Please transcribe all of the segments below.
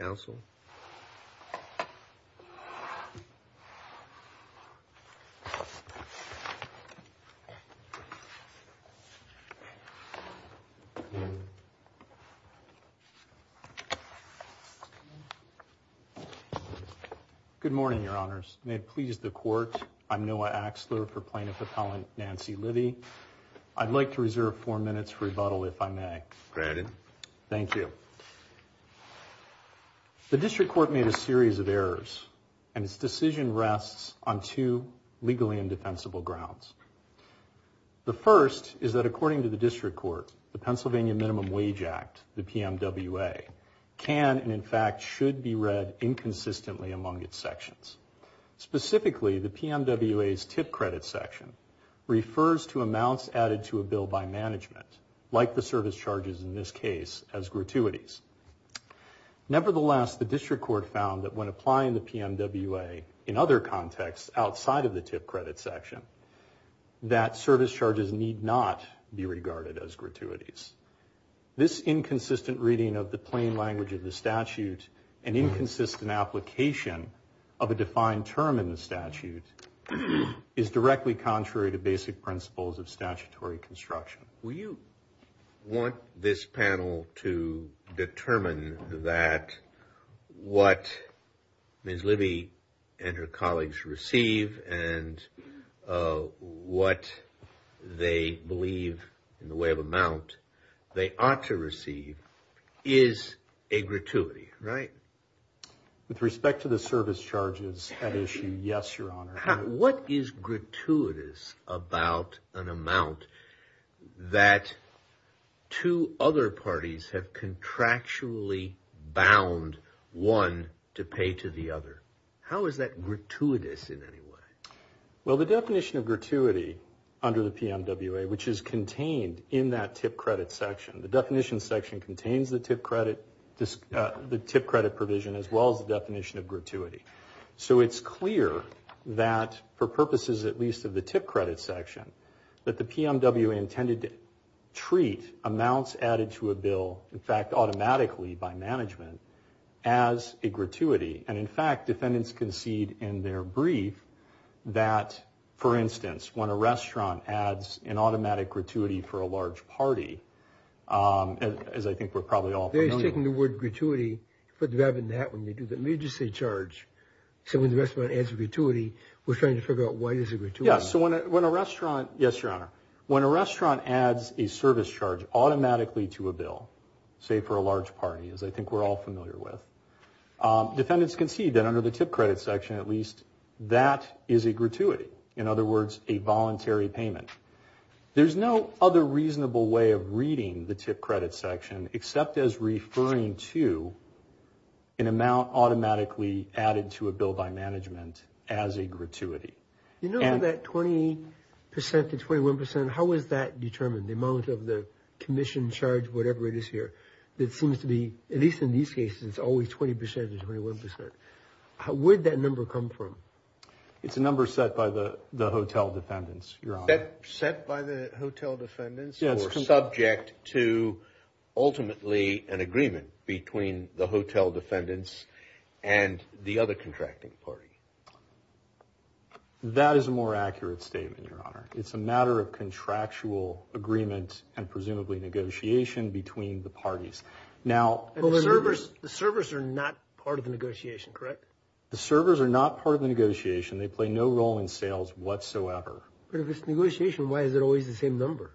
Council. Good morning, Your Honors. May it please the Court, I'm Noah Axler for Plaintiff Appellant Nancy Livi. I'd like to reserve four minutes for rebuttal if I may. Granted. Thank you. The District Court made a series of errors and its decision rests on two legally indefensible grounds. The first is that according to the District Court, the Pennsylvania Minimum Wage Act, the PMWA, can and in fact should be read inconsistently among its sections. Specifically, the PMWA's tip credit section refers to amounts added to a bill by management, like the service charges in this case, as gratuities. Nevertheless, the District Court found that when applying the PMWA in other contexts outside of the tip credit section, that service charges need not be regarded as gratuities. This inconsistent reading of the plain language of the statute, an inconsistent application of a defined term in the statute, is directly contrary to basic principles of statutory construction. Will you want this panel to determine that what Ms. Livi and her colleagues receive and what they believe in the way of amount they ought to receive is a gratuity, right? With respect to the service charges at issue, yes, Your Honor. What is gratuitous about an amount that two other parties have contractually bound one to pay to the other? How is that gratuitous in any way? Well, the definition of gratuity under the PMWA, which is contained in that tip credit section, the definition section contains the tip credit provision as well as the definition of gratuity. So it's clear that, for purposes at least of the tip credit section, that the PMWA intended to treat amounts added to a bill, in fact automatically by management, as a gratuity. And in fact, defendants concede in their brief that, for instance, when a restaurant adds an automatic gratuity for a large party, as I think we're probably all familiar with. They're just taking the word gratuity, put that in that when they do the emergency charge. So when the restaurant adds a gratuity, we're trying to figure out why it is a gratuity. Yes, so when a restaurant, yes, Your Honor, when a restaurant adds a service charge automatically to a bill, say for a large party, as I think we're all familiar with, defendants concede that under the tip credit section, at least, that is a gratuity. In other words, a voluntary payment. There's no other reasonable way of using the tip credit section, except as referring to an amount automatically added to a bill by management as a gratuity. You know that 20% to 21%, how is that determined? The amount of the commission charge, whatever it is here, that seems to be, at least in these cases, it's always 20% to 21%. Where'd that number come from? It's a number set by the hotel defendants or subject to ultimately an agreement between the hotel defendants and the other contracting party. That is a more accurate statement, Your Honor. It's a matter of contractual agreement and presumably negotiation between the parties. Now, the servers are not part of the negotiation, correct? The servers are not part of the negotiation. They play no role in sales whatsoever. But if it's negotiation, why is it always the same number?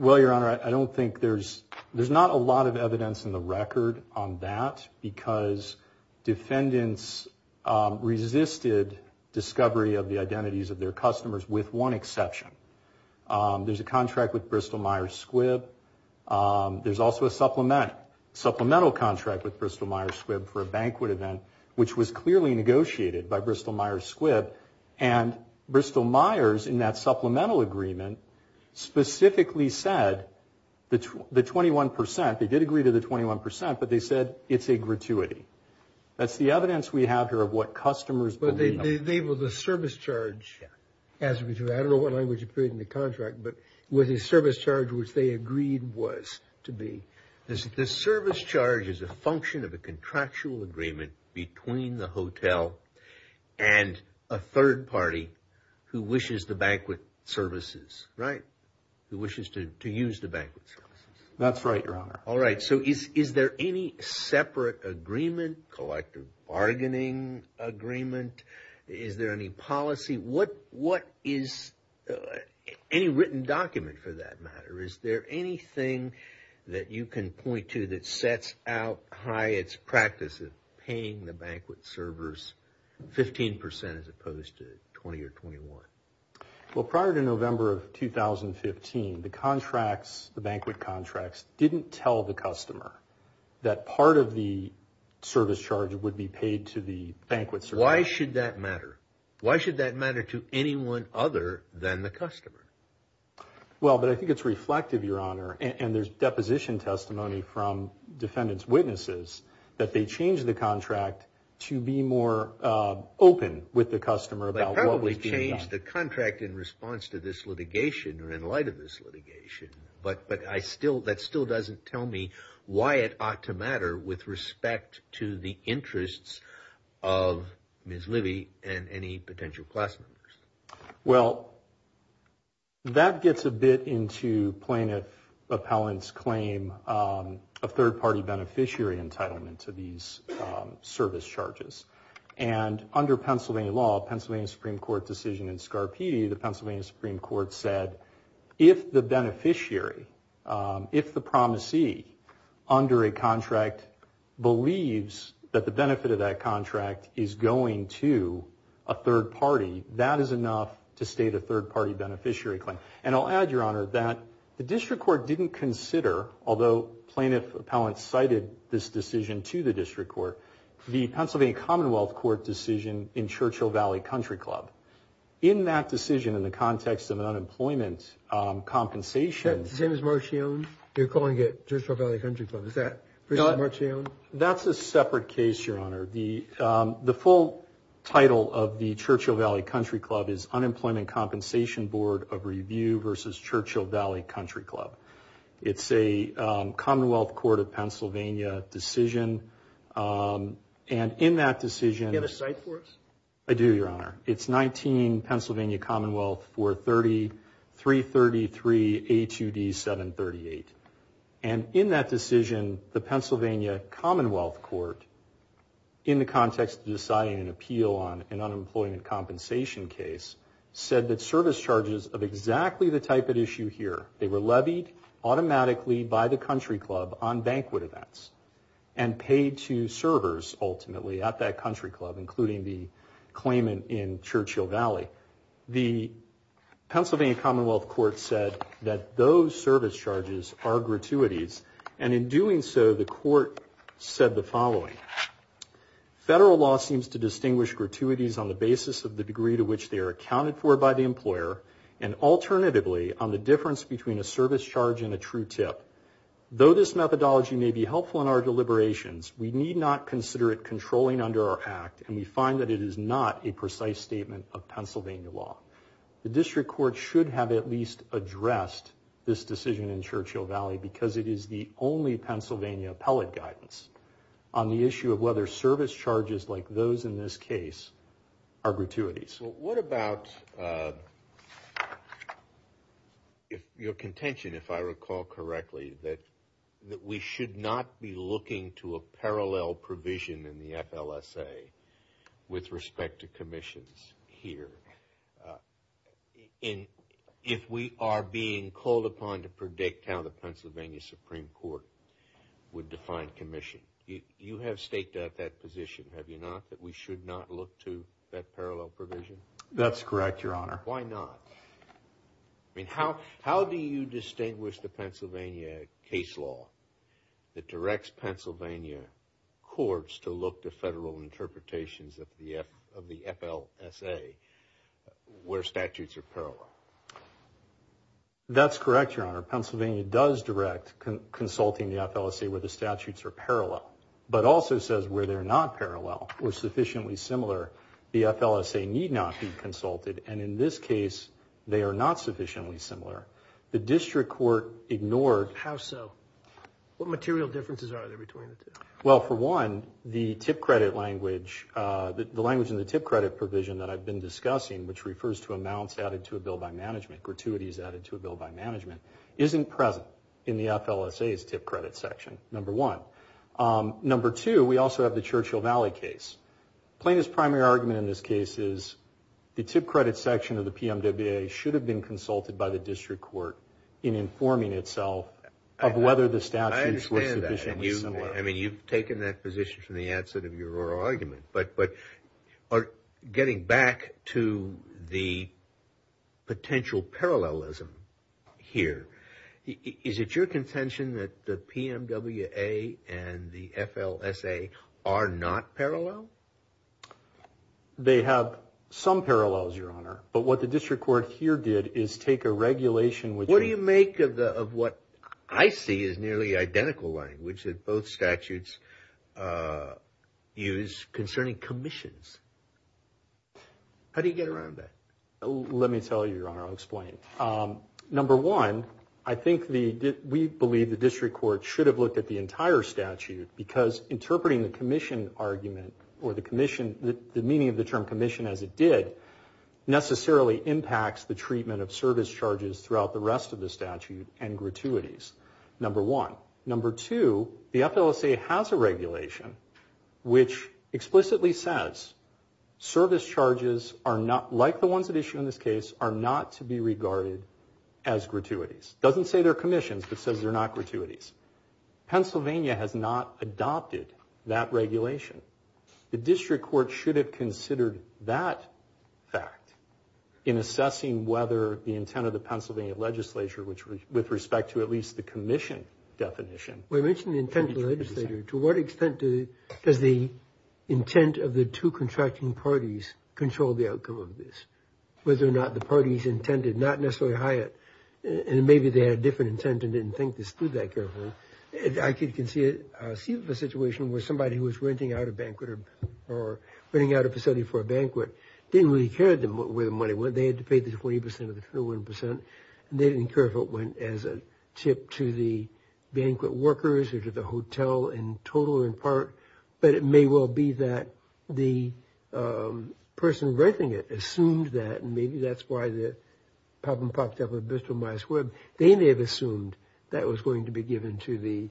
Well, Your Honor, I don't think there's, there's not a lot of evidence in the record on that because defendants resisted discovery of the identities of their customers with one exception. There's a contract with Bristol-Myers Squibb. There's also a supplemental contract with Bristol-Myers Squibb for a banquet event, which was clearly negotiated by Bristol-Myers Squibb. And Bristol-Myers, in that supplemental agreement, specifically said the 21%, they did agree to the 21%, but they said it's a gratuity. That's the evidence we have here of what customers believe. But they labeled the service charge as a gratuity. I don't know what language appeared in the contract, but it was a service charge which they agreed was to be. The service charge is a function of a contractual agreement between the hotel and a third party who wishes the banquet services, right? Who wishes to use the banquet services. That's right, Your Honor. All right. So is there any separate agreement, collective bargaining agreement? Is there any policy? What is, any written document for that matter? Is there anything that you can point to that sets out Hyatt's practice of paying the banquet servers 15% as opposed to 20% or 21%? Well, prior to November of 2015, the contracts, the banquet contracts, didn't tell the customer that part of the service charge would be paid to the banquet server. Why should that matter? Why should that matter to anyone other than the customer? Well, but I think it's reflective, Your Honor, and there's deposition testimony from defendant's witnesses that they changed the contract to be more open with the customer about what was being done. They probably changed the contract in response to this litigation or in light of this litigation, but that still doesn't tell me why it ought to matter with respect to the interests of Ms. Livey and any potential class members. Well, that gets a bit into plaintiff appellant's claim of third-party beneficiary entitlement to these service charges. And under Pennsylvania law, Pennsylvania Supreme Court decision in Scarpitti, the Pennsylvania Supreme Court said, if the beneficiary, if the promisee under a contract believes that the benefit of that contract is going to a third party, that is enough to state a third-party beneficiary claim. And I'll add, Your Honor, that the district court didn't consider, although plaintiff appellant cited this decision to the district court, the Pennsylvania Commonwealth Court decision in Churchill Valley Country Club. In that decision, in the context of an unemployment compensation. Is that the same as Marchione? They're calling it Churchill Valley Country Club. Is that the same as Marchione? That's a separate case, Your Honor. The full title of the Churchill Valley Country Club is Unemployment Compensation Board of Review versus Churchill Valley Country Club. It's a Commonwealth Court of Pennsylvania decision. And in that decision. Do you have a cite for us? I do, Your Honor. It's 19 Pennsylvania Commonwealth 430-333-A2D-738. And in that decision, the Commonwealth Court, in the context of deciding an appeal on an unemployment compensation case, said that service charges of exactly the type at issue here, they were levied automatically by the country club on banquet events. And paid to servers, ultimately, at that country club, including the claimant in Churchill Valley. The Pennsylvania Commonwealth Court said that those service charges are gratuities. And in doing so, the court said the following, federal law seems to distinguish gratuities on the basis of the degree to which they are accounted for by the employer and alternatively on the difference between a service charge and a true tip. Though this methodology may be helpful in our deliberations, we need not consider it controlling under our act. And we find that it is not a precise statement of Pennsylvania law. The district court should have at least addressed this decision in Churchill Valley because it is the only Pennsylvania appellate guidance on the issue of whether service charges like those in this case are gratuities. What about your contention, if I recall correctly, that we should not be looking to a parallel provision in the FLSA with respect to commissions here? If we are being called upon to predict how the Pennsylvania Supreme Court would define commission, you have staked out that position, have you not? That we should not look to that parallel provision? That's correct, Your Honor. Why not? I mean, how do you distinguish the Pennsylvania case law that directs Pennsylvania courts to look to federal interpretations of the FLSA where statutes are parallel? That's correct, Your Honor. Pennsylvania does direct consulting the FLSA where the statutes are parallel, but also says where they're not parallel or sufficiently similar, the FLSA need not be consulted. And in this case, they are not sufficiently similar. The district court ignored... How so? What material differences are there between the two? Well, for one, the TIP credit language, the language in the TIP credit provision that I've been discussing, which refers to amounts added to a bill by management, gratuities added to a bill by management, isn't present in the FLSA's TIP credit section, number one. Number two, we also have the Churchill Valley case. Plaintiff's primary argument in this case is the TIP credit section of the PMWA should have been consulted by the district court in informing itself of whether the statutes were sufficiently similar. I mean, you've taken that position from the outset of your oral argument, but getting back to the potential parallelism here, is it your contention that the PMWA and the FLSA are not parallel? They have some parallels, Your Honor, but what the district court here did is take a regulation... What do you make of what I see as nearly identical language that both statutes use concerning commissions? How do you get around that? Let me tell you, Your Honor, I'll explain. Number one, I think we believe the district court should have looked at the entire statute because interpreting the commission argument or the commission, the meaning of the term commission as it did, necessarily impacts the treatment of service charges throughout the rest of the statute and gratuities, number one. Number two, the FLSA has a regulation which explicitly says service charges are not... Like the ones that issue in this case, are not to be regarded as gratuities. Doesn't say they're commissions, but says they're not gratuities. Pennsylvania has not adopted that regulation. The district court should have considered that fact in assessing whether the intent of the Pennsylvania legislature, which with respect to at least the commission definition... We mentioned the intent of the legislature. To what extent does the intent of the two contracting parties control the outcome of this? Whether or not the parties intended, not necessarily Hyatt, and maybe they had a different intent and didn't think this through that carefully. I can see a situation where somebody who was renting out a banquet or renting out a facility for a banquet didn't really care where the money went. They had to pay the 20% of the 21%, and they didn't care if it went as a tip to the banquet workers or to the hotel in total or in part, but it may well be that the person renting it assumed that, and maybe that's why the pop-and-pops up at Bristol-Myers Webb. They may have assumed that was going to be given to the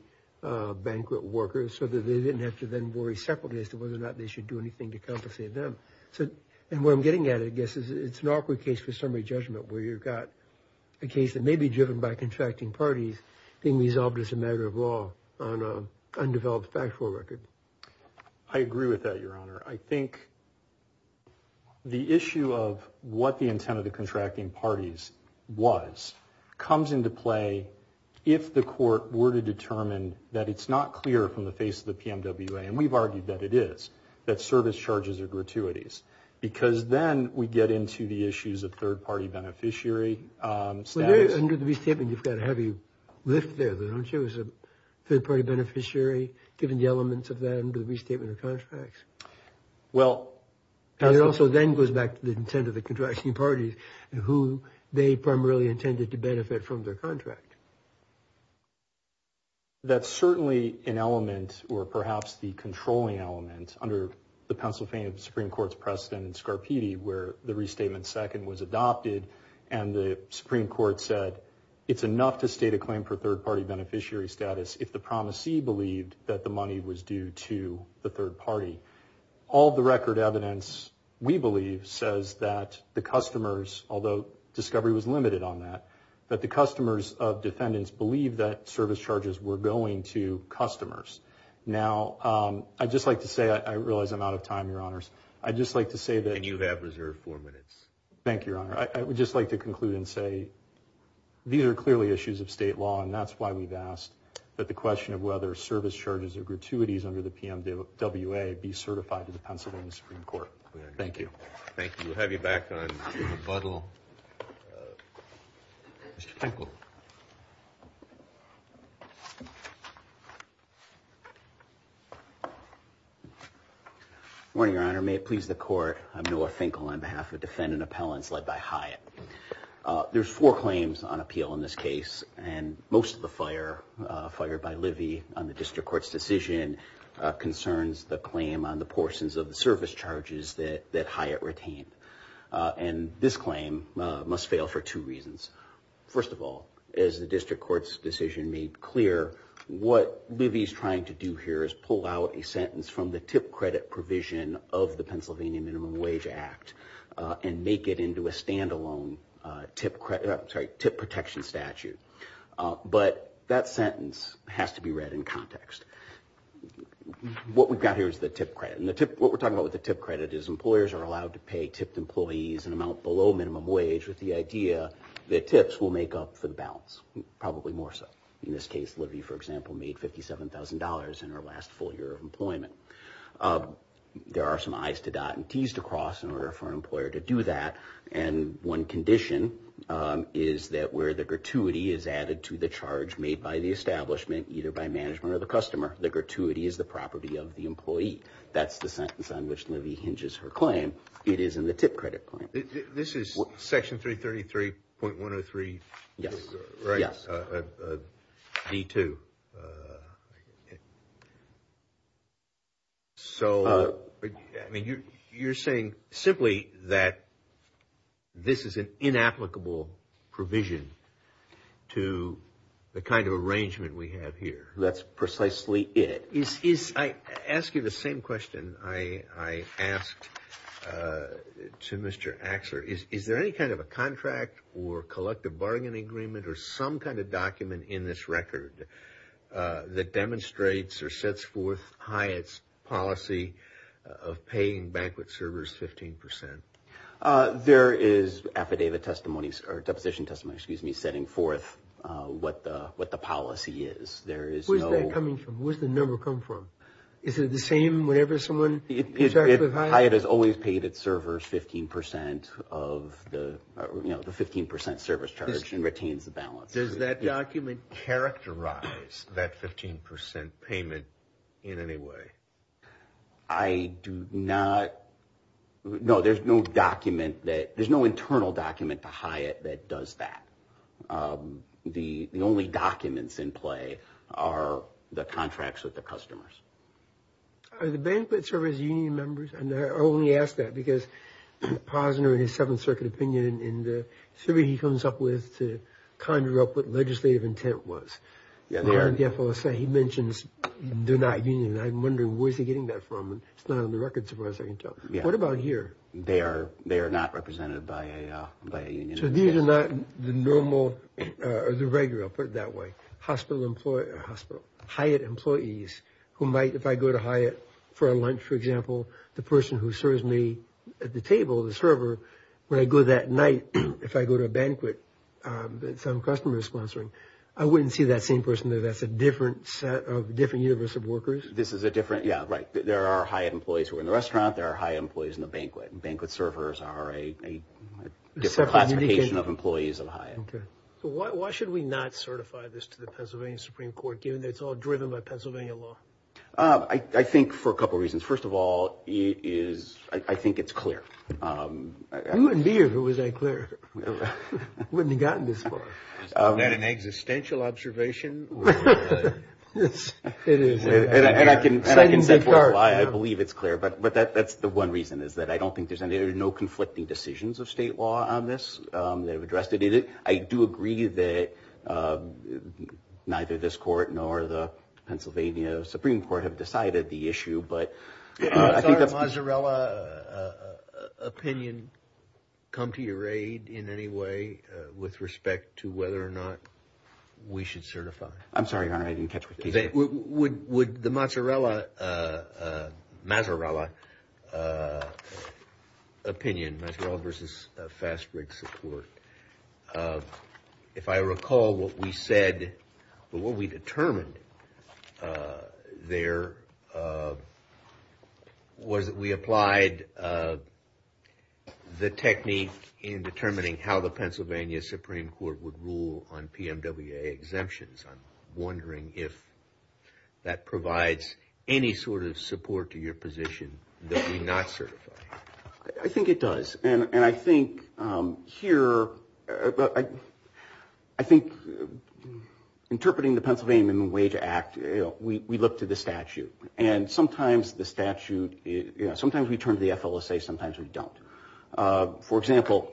banquet workers so that they didn't have to then worry separately as to whether or not they should do anything to compensate them. And what I'm getting at, I guess, is it's an awkward case for summary judgment where you've got a case that may be driven by contracting parties being resolved as a matter of law on an undeveloped factual record. I agree with that, Your Honor. I think the issue of what the intent of the contracting parties was comes into play if the court were to determine that it's not clear from the face of the PMWA, and we've Because then we get into the issues of third-party beneficiary status. Under the restatement, you've got a heavy lift there, though, don't you, as a third-party beneficiary, given the elements of that under the restatement of contracts? Well... And it also then goes back to the intent of the contracting parties and who they primarily intended to benefit from their contract. That's certainly an element, or perhaps the controlling element, under the Pennsylvania Supreme Court's precedent in Scarpitti, where the restatement second was adopted, and the Supreme Court said it's enough to state a claim for third-party beneficiary status if the promisee believed that the money was due to the third party. All the record evidence, we believe, says that the customers, although discovery was limited on that, that the customers of defendants believed that service charges were going to customers. Now, I'd just like to say, I realize I'm out of time, Your Honors, I'd just like to say that... And you have reserved four minutes. Thank you, Your Honor. I would just like to conclude and say, these are clearly issues of state law, and that's why we've asked that the question of whether service charges or gratuities under the PMWA be certified to the Pennsylvania Supreme Court. Thank you. Thank you. We'll have you back on rebuttal. Mr. Kinkle. Good morning, Your Honor. May it please the Court, I'm Noah Kinkle on behalf of Defendant Appellants led by Hyatt. There's four claims on appeal in this case, and most of the fire, fired by Livy on the District Court's decision, concerns the claim on the portions of the service charges that Hyatt retained. And this claim must fail for two reasons. First of all, as the District Court's decision made clear, what Livy's trying to do here is pull out a sentence from the tip credit provision of the Pennsylvania Minimum Wage Act and make it into a standalone tip protection statute. But that sentence has to be read in context. What we've got here is the tip credit, and what we're talking about with the tip credit is employers are allowed to pay tipped employees an amount below minimum wage with the idea that tips will make up for the balance, probably more so. In this case, Livy, for example, made $57,000 in her last full year of employment. There are some I's to dot and T's to cross in order for an employer to do that, and one condition is that where the gratuity is added to the charge made by the establishment, either by management or the customer, the gratuity is the property of the employee. That's the sentence on which Livy hinges her claim. It is in the tip credit claim. This is Section 333.103, right? Yes. D2. So, I mean, you're saying simply that this is an inapplicable provision to the kind of arrangement we have here. That's precisely it. I ask you the same question I asked to Mr. Axler. Is there any kind of a contract or collective bargaining agreement or some kind of document in this record that demonstrates or sets forth Hyatt's policy of paying banquet servers 15%? There is affidavit testimony, or deposition testimony, excuse me, setting forth what the policy is. There is no- Where does Hyatt come from? Is it the same whenever someone interacts with Hyatt? Hyatt has always paid its servers 15% of the, you know, the 15% service charge and retains the balance. Does that document characterize that 15% payment in any way? I do not, no, there's no document that, there's no internal document to Hyatt that does that. The only documents in play are the contracts with the customers. Are the banquet servers union members? And I only ask that because Posner in his Seventh Circuit opinion in the theory he comes up with to conjure up what legislative intent was. Yeah, they are. They are in the FLSA. He mentions do not union, and I'm wondering where is he getting that from? It's not on the record so far as I can tell. They are, they are not represented by a, by a union. So these are not the normal, or the regular, I'll put it that way, hospital, Hyatt employees who might, if I go to Hyatt for a lunch, for example, the person who serves me at the table, the server, when I go that night, if I go to a banquet that some customer is sponsoring, I wouldn't see that same person there. That's a different set of, different universe of workers. This is a different, yeah, right. There are Hyatt employees who are in the restaurant. There are Hyatt employees in the banquet. Banquet servers are a different classification of employees at Hyatt. Okay. So why should we not certify this to the Pennsylvania Supreme Court given that it's all driven by Pennsylvania law? I think for a couple reasons. First of all, it is, I think it's clear. It wouldn't be if it was that clear. It wouldn't have gotten this far. Is that an existential observation? Yes, it is. And I can, and I can set forth why I believe it's clear, but, but that, that's the one reason, is that I don't think there's any, there are no conflicting decisions of state law on this that have addressed it. I do agree that neither this court nor the Pennsylvania Supreme Court have decided the issue, but I think that's- Has the mozzarella opinion come to your aid in any way with respect to whether or not we should certify? I'm sorry, Your Honor. I didn't catch what you said. Would the mozzarella, mazarella opinion, mazarella versus fast-break support, if I recall what we said, what we determined there was that we applied the technique in determining how the Pennsylvania Supreme Court would rule on PMWA exemptions. I'm wondering if that provides any sort of support to your position that we not certify. I think it does. And I think here, I think interpreting the Pennsylvania Minimum Wage Act, we look to the statute. And sometimes the statute, you know, sometimes we turn to the FLSA, sometimes we don't. For example-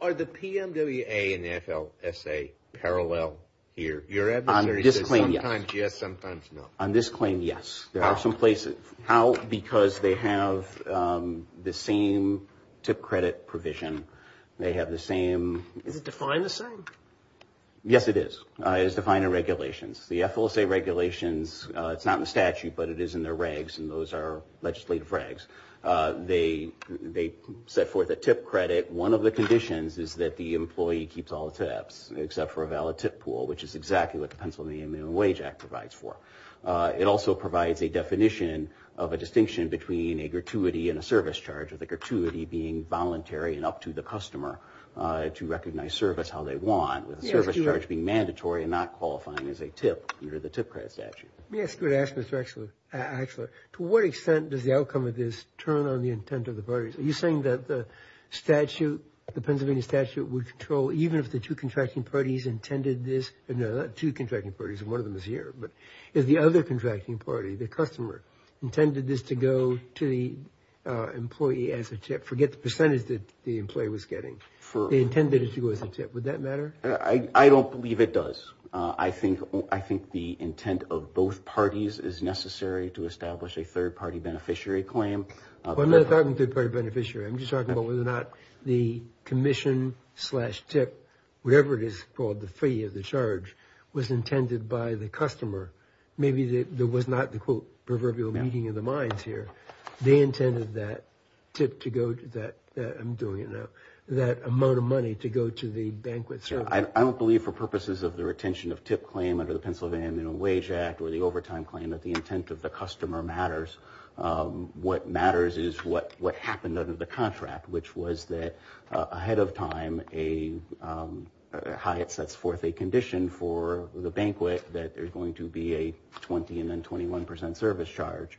Are the PMWA and the FLSA parallel here? On this claim, yes. Sometimes yes, sometimes no. On this claim, yes. How? There are some places. How? Because they have the same tip credit provision. They have the same- Is it defined the same? Yes, it is. It is defined in regulations. The FLSA regulations, it's not in the statute, but it is in their regs, and those are legislative regs. They set forth a tip credit. One of the conditions is that the employee keeps all the tips, except for a valid tip pool, which is exactly what the Pennsylvania Minimum Wage Act provides for. It also provides a definition of a distinction between a gratuity and a service charge, with the gratuity being voluntary and up to the customer to recognize service how they want, with the service charge being mandatory and not qualifying as a tip under the tip credit statute. Let me ask you a question, Mr. Axler. To what extent does the outcome of this turn on the intent of the parties? Are you saying that the statute, the Pennsylvania statute, would control even if the two contracting parties intended this? No, not two contracting parties, one of them is here, but if the other contracting party, the customer, intended this to go to the employee as a tip, forget the percentage that the employee was getting, they intended it to go as a tip, would that matter? I don't believe it does. I think the intent of both parties is necessary to establish a third-party beneficiary claim. I'm not talking third-party beneficiary. I'm just talking about whether or not the commission slash tip, whatever it is called the fee of the charge, was intended by the customer. Maybe there was not the quote proverbial meeting of the minds here. They intended that tip to go to that, I'm doing it now, that amount of money to go to the banquet service. I don't believe for purposes of the retention of tip claim under the Pennsylvania Minimum Wage Act or the overtime claim that the intent of the customer matters. What matters is what happened under the contract, which was that ahead of time, Hyatt sets forth a condition for the banquet that there's going to be a 20 and then 21 percent service charge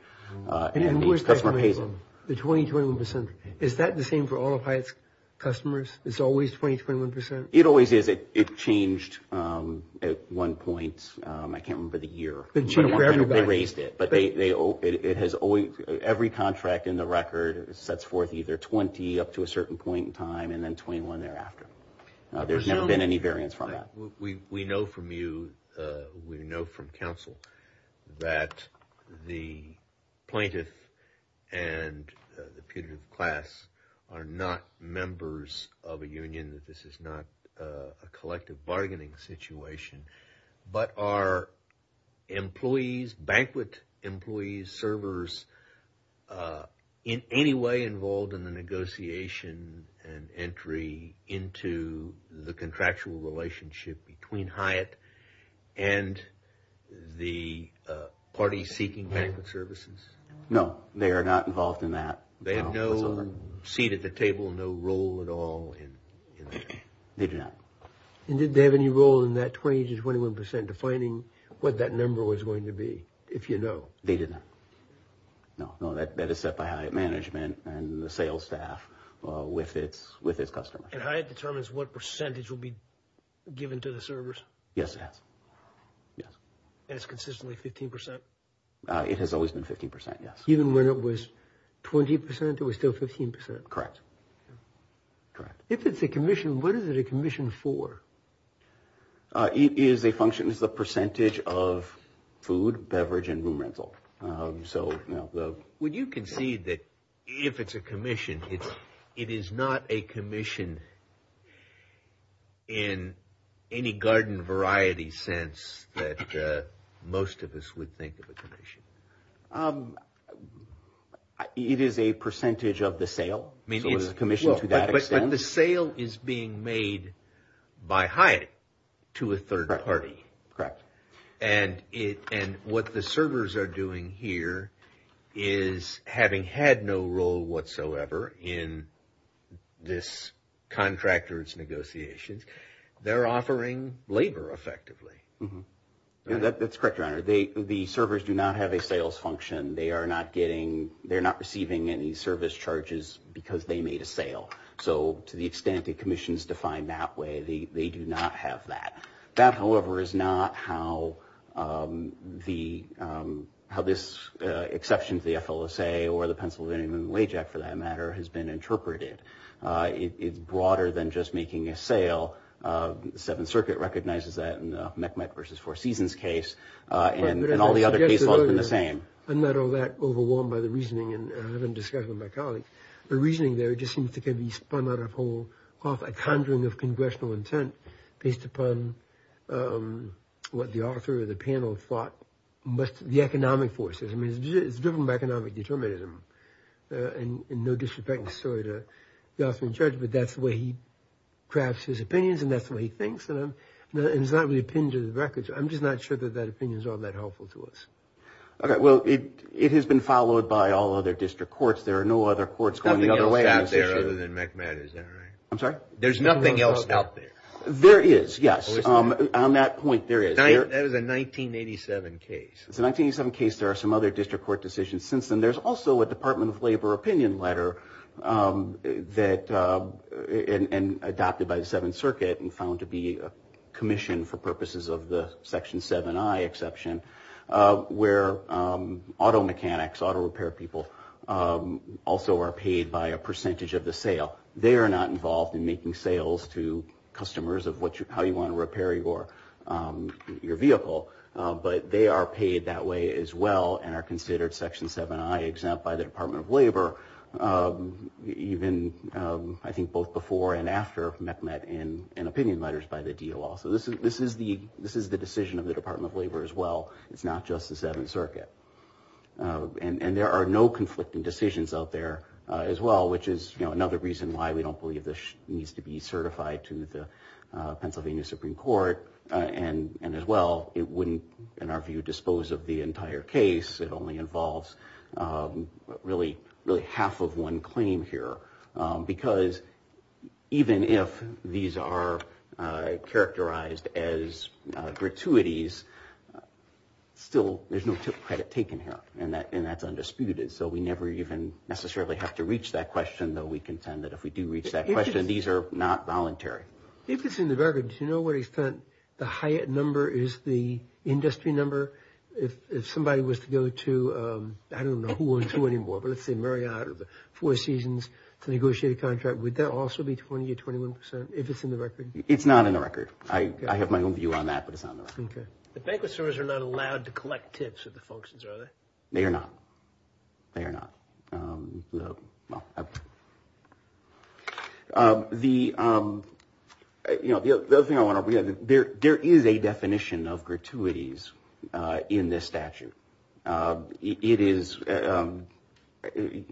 and each customer pays it. The 20-21 percent, is that the same for all of Hyatt's customers? It's always 20-21 percent? It always is. It changed at one point, I can't remember the year, they raised it. But every contract in the record sets forth either 20 up to a certain point in time and then 21 thereafter. There's never been any variance from that. We know from you, we know from counsel, that the plaintiff and the putative class are not members of a union, that this is not a collective bargaining situation. But are employees, banquet employees, servers, in any way involved in the negotiation and entry into the contractual relationship between Hyatt and the party seeking banquet services? No. They are not involved in that. They have no seat at the table, no role at all in that? They do not. And did they have any role in that 20-21 percent, defining what that number was going to be, if you know? They didn't. No. That is set by Hyatt management and the sales staff with its customers. And Hyatt determines what percentage will be given to the servers? Yes, it has. Yes. And it's consistently 15 percent? It has always been 15 percent, yes. Even when it was 20 percent, it was still 15 percent? Correct. Correct. If it's a commission, what is it a commission for? It is a function, it's a percentage of food, beverage, and room rental. Would you concede that if it's a commission, it is not a commission in any garden variety sense that most of us would think of a commission? It is a percentage of the sale, so it is a commission to that extent. And the sale is being made by Hyatt to a third party? Correct. Correct. And what the servers are doing here is, having had no role whatsoever in this contractor's negotiations, they're offering labor effectively? That's correct, Your Honor. The servers do not have a sales function. They are not getting, they're not receiving any service charges because they made a sale. So, to the extent a commission is defined that way, they do not have that. That, however, is not how this exception to the FLSA, or the Pennsylvania Moving Wage Act, for that matter, has been interpreted. It's broader than just making a sale. The Seventh Circuit recognizes that in the Meck-Meck v. Four Seasons case, and all the other cases have been the same. I'm not all that overwhelmed by the reasoning, and I haven't discussed it with my colleagues. The reasoning there just seems to be spun out of whole, off a conjuring of congressional intent based upon what the author of the panel thought must, the economic forces. I mean, it's driven by economic determinism, and no disrespecting the story to the author in charge, but that's the way he crafts his opinions, and that's the way he thinks. And it's not really pinned to the records. I'm just not sure that that opinion is all that helpful to us. Okay, well, it has been followed by all other district courts. There are no other courts going the other way on this issue. There's nothing else out there other than Meck-Meck, is that right? I'm sorry? There's nothing else out there. There is. Yes. On that point, there is. That is a 1987 case. It's a 1987 case. There are some other district court decisions since then. There's also a Department of Labor opinion letter that, and adopted by the Seventh Circuit, and found to be commissioned for purposes of the Section 7i exception, where auto mechanics, auto repair people, also are paid by a percentage of the sale. They are not involved in making sales to customers of how you want to repair your vehicle, but they are paid that way as well, and are considered Section 7i exempt by the Department of Labor, even I think both before and after Meck-Meck, and opinion letters by the DOL. So this is the decision of the Department of Labor as well. It's not just the Seventh Circuit. And there are no conflicting decisions out there as well, which is another reason why we don't believe this needs to be certified to the Pennsylvania Supreme Court. And as well, it wouldn't, in our view, dispose of the entire case. It only involves really half of one claim here, because even if these are characterized as gratuities, still there's no credit taken here, and that's undisputed. So we never even necessarily have to reach that question, though we contend that if we do reach that question, these are not voluntary. If it's in the record, do you know what extent the Hyatt number is the industry number? If somebody was to go to, I don't know who and to anymore, but let's say Marriott or Four Seasons to negotiate a contract, would that also be 20 or 21 percent, if it's in the record? It's not in the record. I have my own view on that, but it's not in the record. Okay. The bankless owners are not allowed to collect tips of the functions, are they? They are not. They are not. The, you know, the other thing I want to bring up, there is a definition of gratuities in this statute. It is, there's an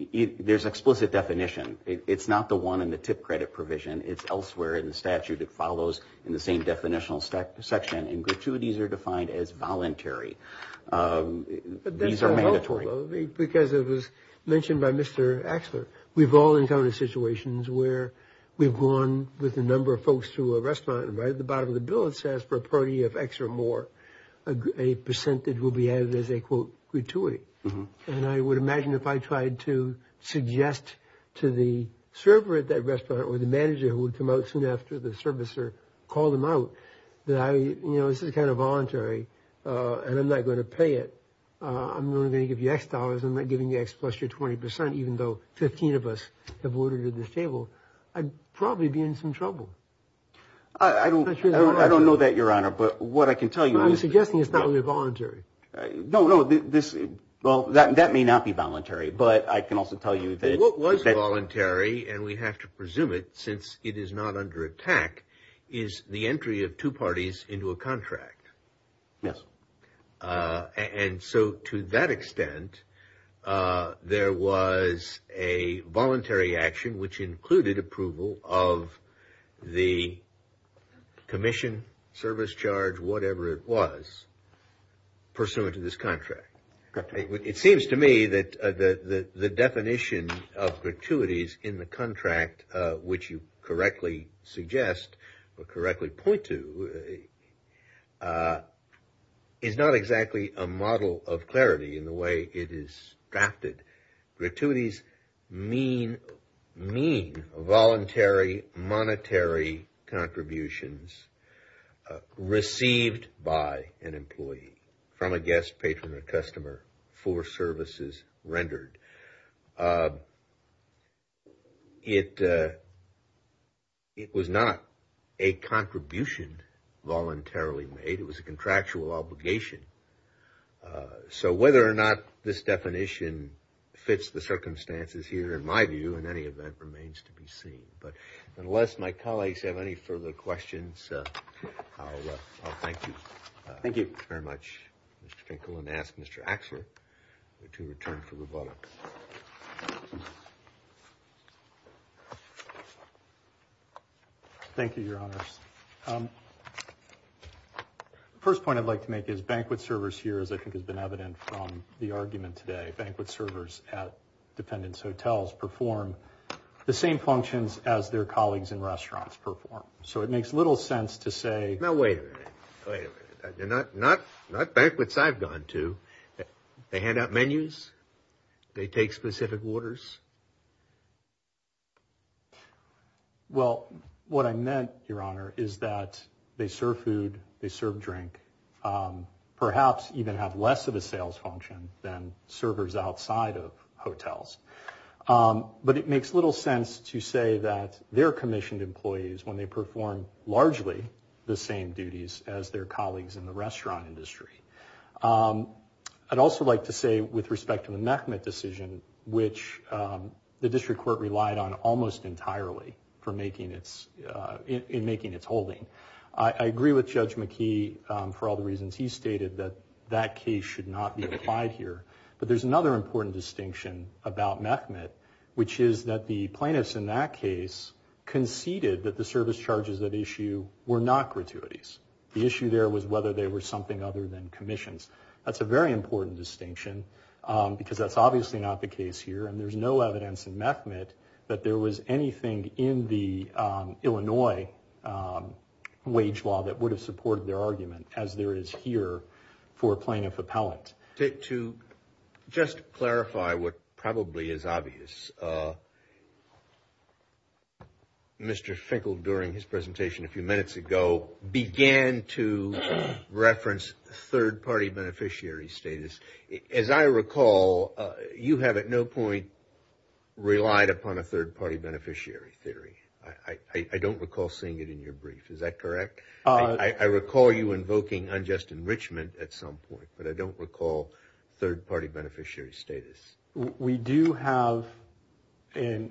explicit definition. It's not the one in the tip credit provision. It's elsewhere in the statute. It follows in the same definitional section, and gratuities are defined as voluntary. But that's not helpful, though, because it was mentioned by Mr. Axler. We've all encountered situations where we've gone with a number of folks to a restaurant and right at the bottom of the bill it says for a party of X or more, a percentage will be added as a, quote, gratuity, and I would imagine if I tried to suggest to the server at that restaurant, or the manager who would come out soon after, the servicer, call them out, that I, you know, this is kind of voluntary, and I'm not going to pay it, I'm only going to give you X dollars, I'm not giving you X plus your 20 percent, even though 15 of us have ordered at this table, I'd probably be in some trouble. I don't know that, Your Honor, but what I can tell you is... I'm suggesting it's not really voluntary. No, no, this, well, that may not be voluntary, but I can also tell you that... I have to presume it, since it is not under attack, is the entry of two parties into a contract. Yes. And so, to that extent, there was a voluntary action, which included approval of the commission service charge, whatever it was, pursuant to this contract. It seems to me that the definition of gratuities in the contract, which you correctly suggest, or correctly point to, is not exactly a model of clarity in the way it is drafted. Gratuities mean voluntary, monetary contributions received by an employee, from a guest, patron, or customer, for services rendered. It was not a contribution voluntarily made, it was a contractual obligation, so whether or not this definition fits the circumstances here, in my view, in any event, remains to be seen. But, unless my colleagues have any further questions, I'll thank you very much, Mr. Finkel, and ask Mr. Axler to return for rebuttal. Thank you, Your Honors. First point I'd like to make is banquet servers here, as I think has been evident from the argument today, banquet servers at dependents' hotels perform the same functions as their colleagues in restaurants perform. So it makes little sense to say... Now, wait a minute, wait a minute. They're not banquets I've gone to. They hand out menus? They take specific orders? Well, what I meant, Your Honor, is that they serve food, they serve drink, perhaps even have less of a sales function than servers outside of hotels. But it makes little sense to say that their commissioned employees, when they perform largely the same duties as their colleagues in the restaurant industry. I'd also like to say, with respect to the Mehmet decision, which the district court relied on almost entirely in making its holding, I agree with Judge McKee for all the reasons he stated that that case should not be applied here. But there's another important distinction about Mehmet, which is that the plaintiffs in that case conceded that the service charges at issue were not gratuities. The issue there was whether they were something other than commissions. That's a very important distinction, because that's obviously not the case here, and there's no evidence in Mehmet that there was anything in the Illinois wage law that would have supported their argument, as there is here for plaintiff appellant. To just clarify what probably is obvious, Mr. Finkel, during his presentation a few minutes ago, began to reference third-party beneficiary status. As I recall, you have at no point relied upon a third-party beneficiary theory. I don't recall seeing it in your brief, is that correct? I recall you invoking unjust enrichment at some point, but I don't recall third-party beneficiary status. We do have a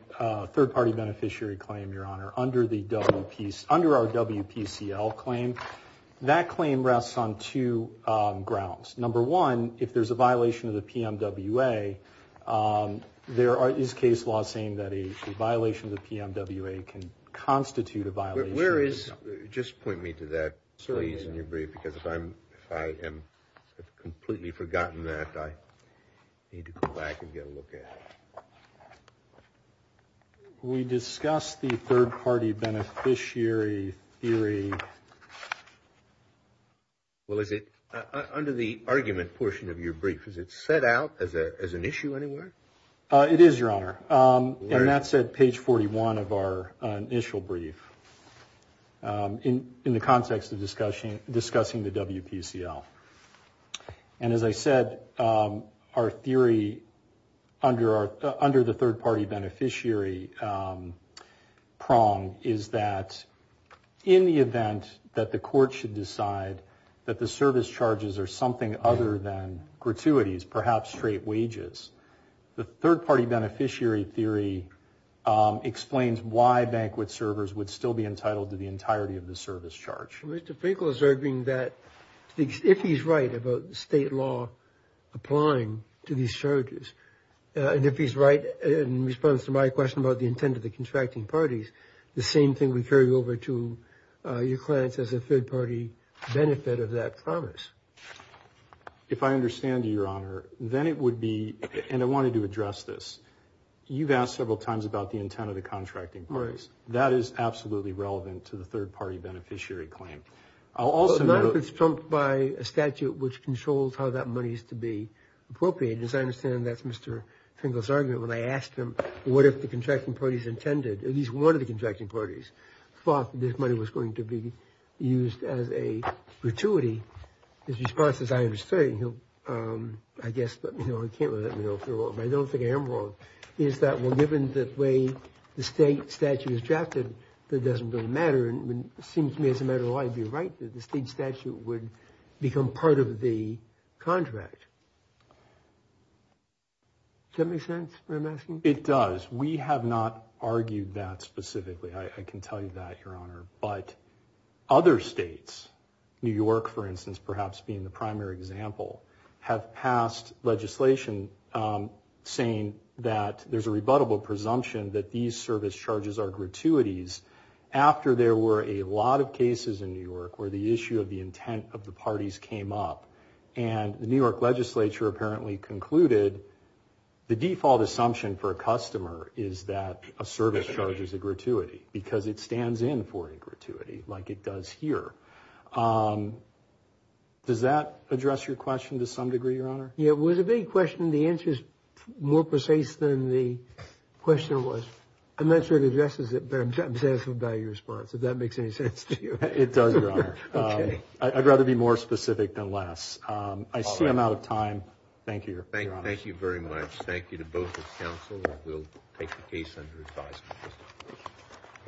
third-party beneficiary claim, Your Honor, under our WPCL claim. That claim rests on two grounds. Number one, if there's a violation of the PMWA, there is case law saying that a violation of the PMWA can constitute a violation. Where is, just point me to that, please, in your brief, because if I have completely forgotten that, I need to go back and get a look at it. We discussed the third-party beneficiary theory. Well, is it, under the argument portion of your brief, is it set out as an issue anywhere? It is, Your Honor. And that's at page 41 of our initial brief in the context of discussing the WPCL. And as I said, our theory under the third-party beneficiary prong is that in the event that the court should decide that the service charges are something other than gratuities, perhaps straight wages, the third-party beneficiary theory explains why banquet servers would still be entitled to the entirety of the service charge. Mr. Finkle is arguing that if he's right about the state law applying to these charges, and if he's right in response to my question about the intent of the contracting parties, the same thing would carry over to your clients as a third-party benefit of that promise. If I understand you, Your Honor, then it would be, and I wanted to address this, you've asked several times about the intent of the contracting parties. That is absolutely relevant to the third-party beneficiary claim. Not if it's trumped by a statute which controls how that money is to be appropriated. As I understand, that's Mr. Finkle's argument. When I asked him, what if the contracting parties intended, at least one of the contracting his response is, I understand, he'll, I guess, but he can't let me know if they're wrong. I don't think I am wrong, is that, well, given the way the state statute is drafted, that doesn't really matter. It seems to me as a matter of life, you're right, that the state statute would become part of the contract. Does that make sense, what I'm asking? It does. We have not argued that specifically. I can tell you that, Your Honor. But other states, New York, for instance, perhaps being the primary example, have passed legislation saying that there's a rebuttable presumption that these service charges are gratuities after there were a lot of cases in New York where the issue of the intent of the parties came up. And the New York legislature apparently concluded the default assumption for a customer is that a service charge is a gratuity because it stands in for a gratuity like it does here. Does that address your question to some degree, Your Honor? Yeah, it was a big question. The answer is more precise than the question was. I'm not sure it addresses it, but I'm satisfied by your response, if that makes any sense to you. It does, Your Honor. I'd rather be more specific than less. I see I'm out of time. Thank you, Your Honor. Thank you very much. Thank you to both the counsel. We'll take the case under advisement.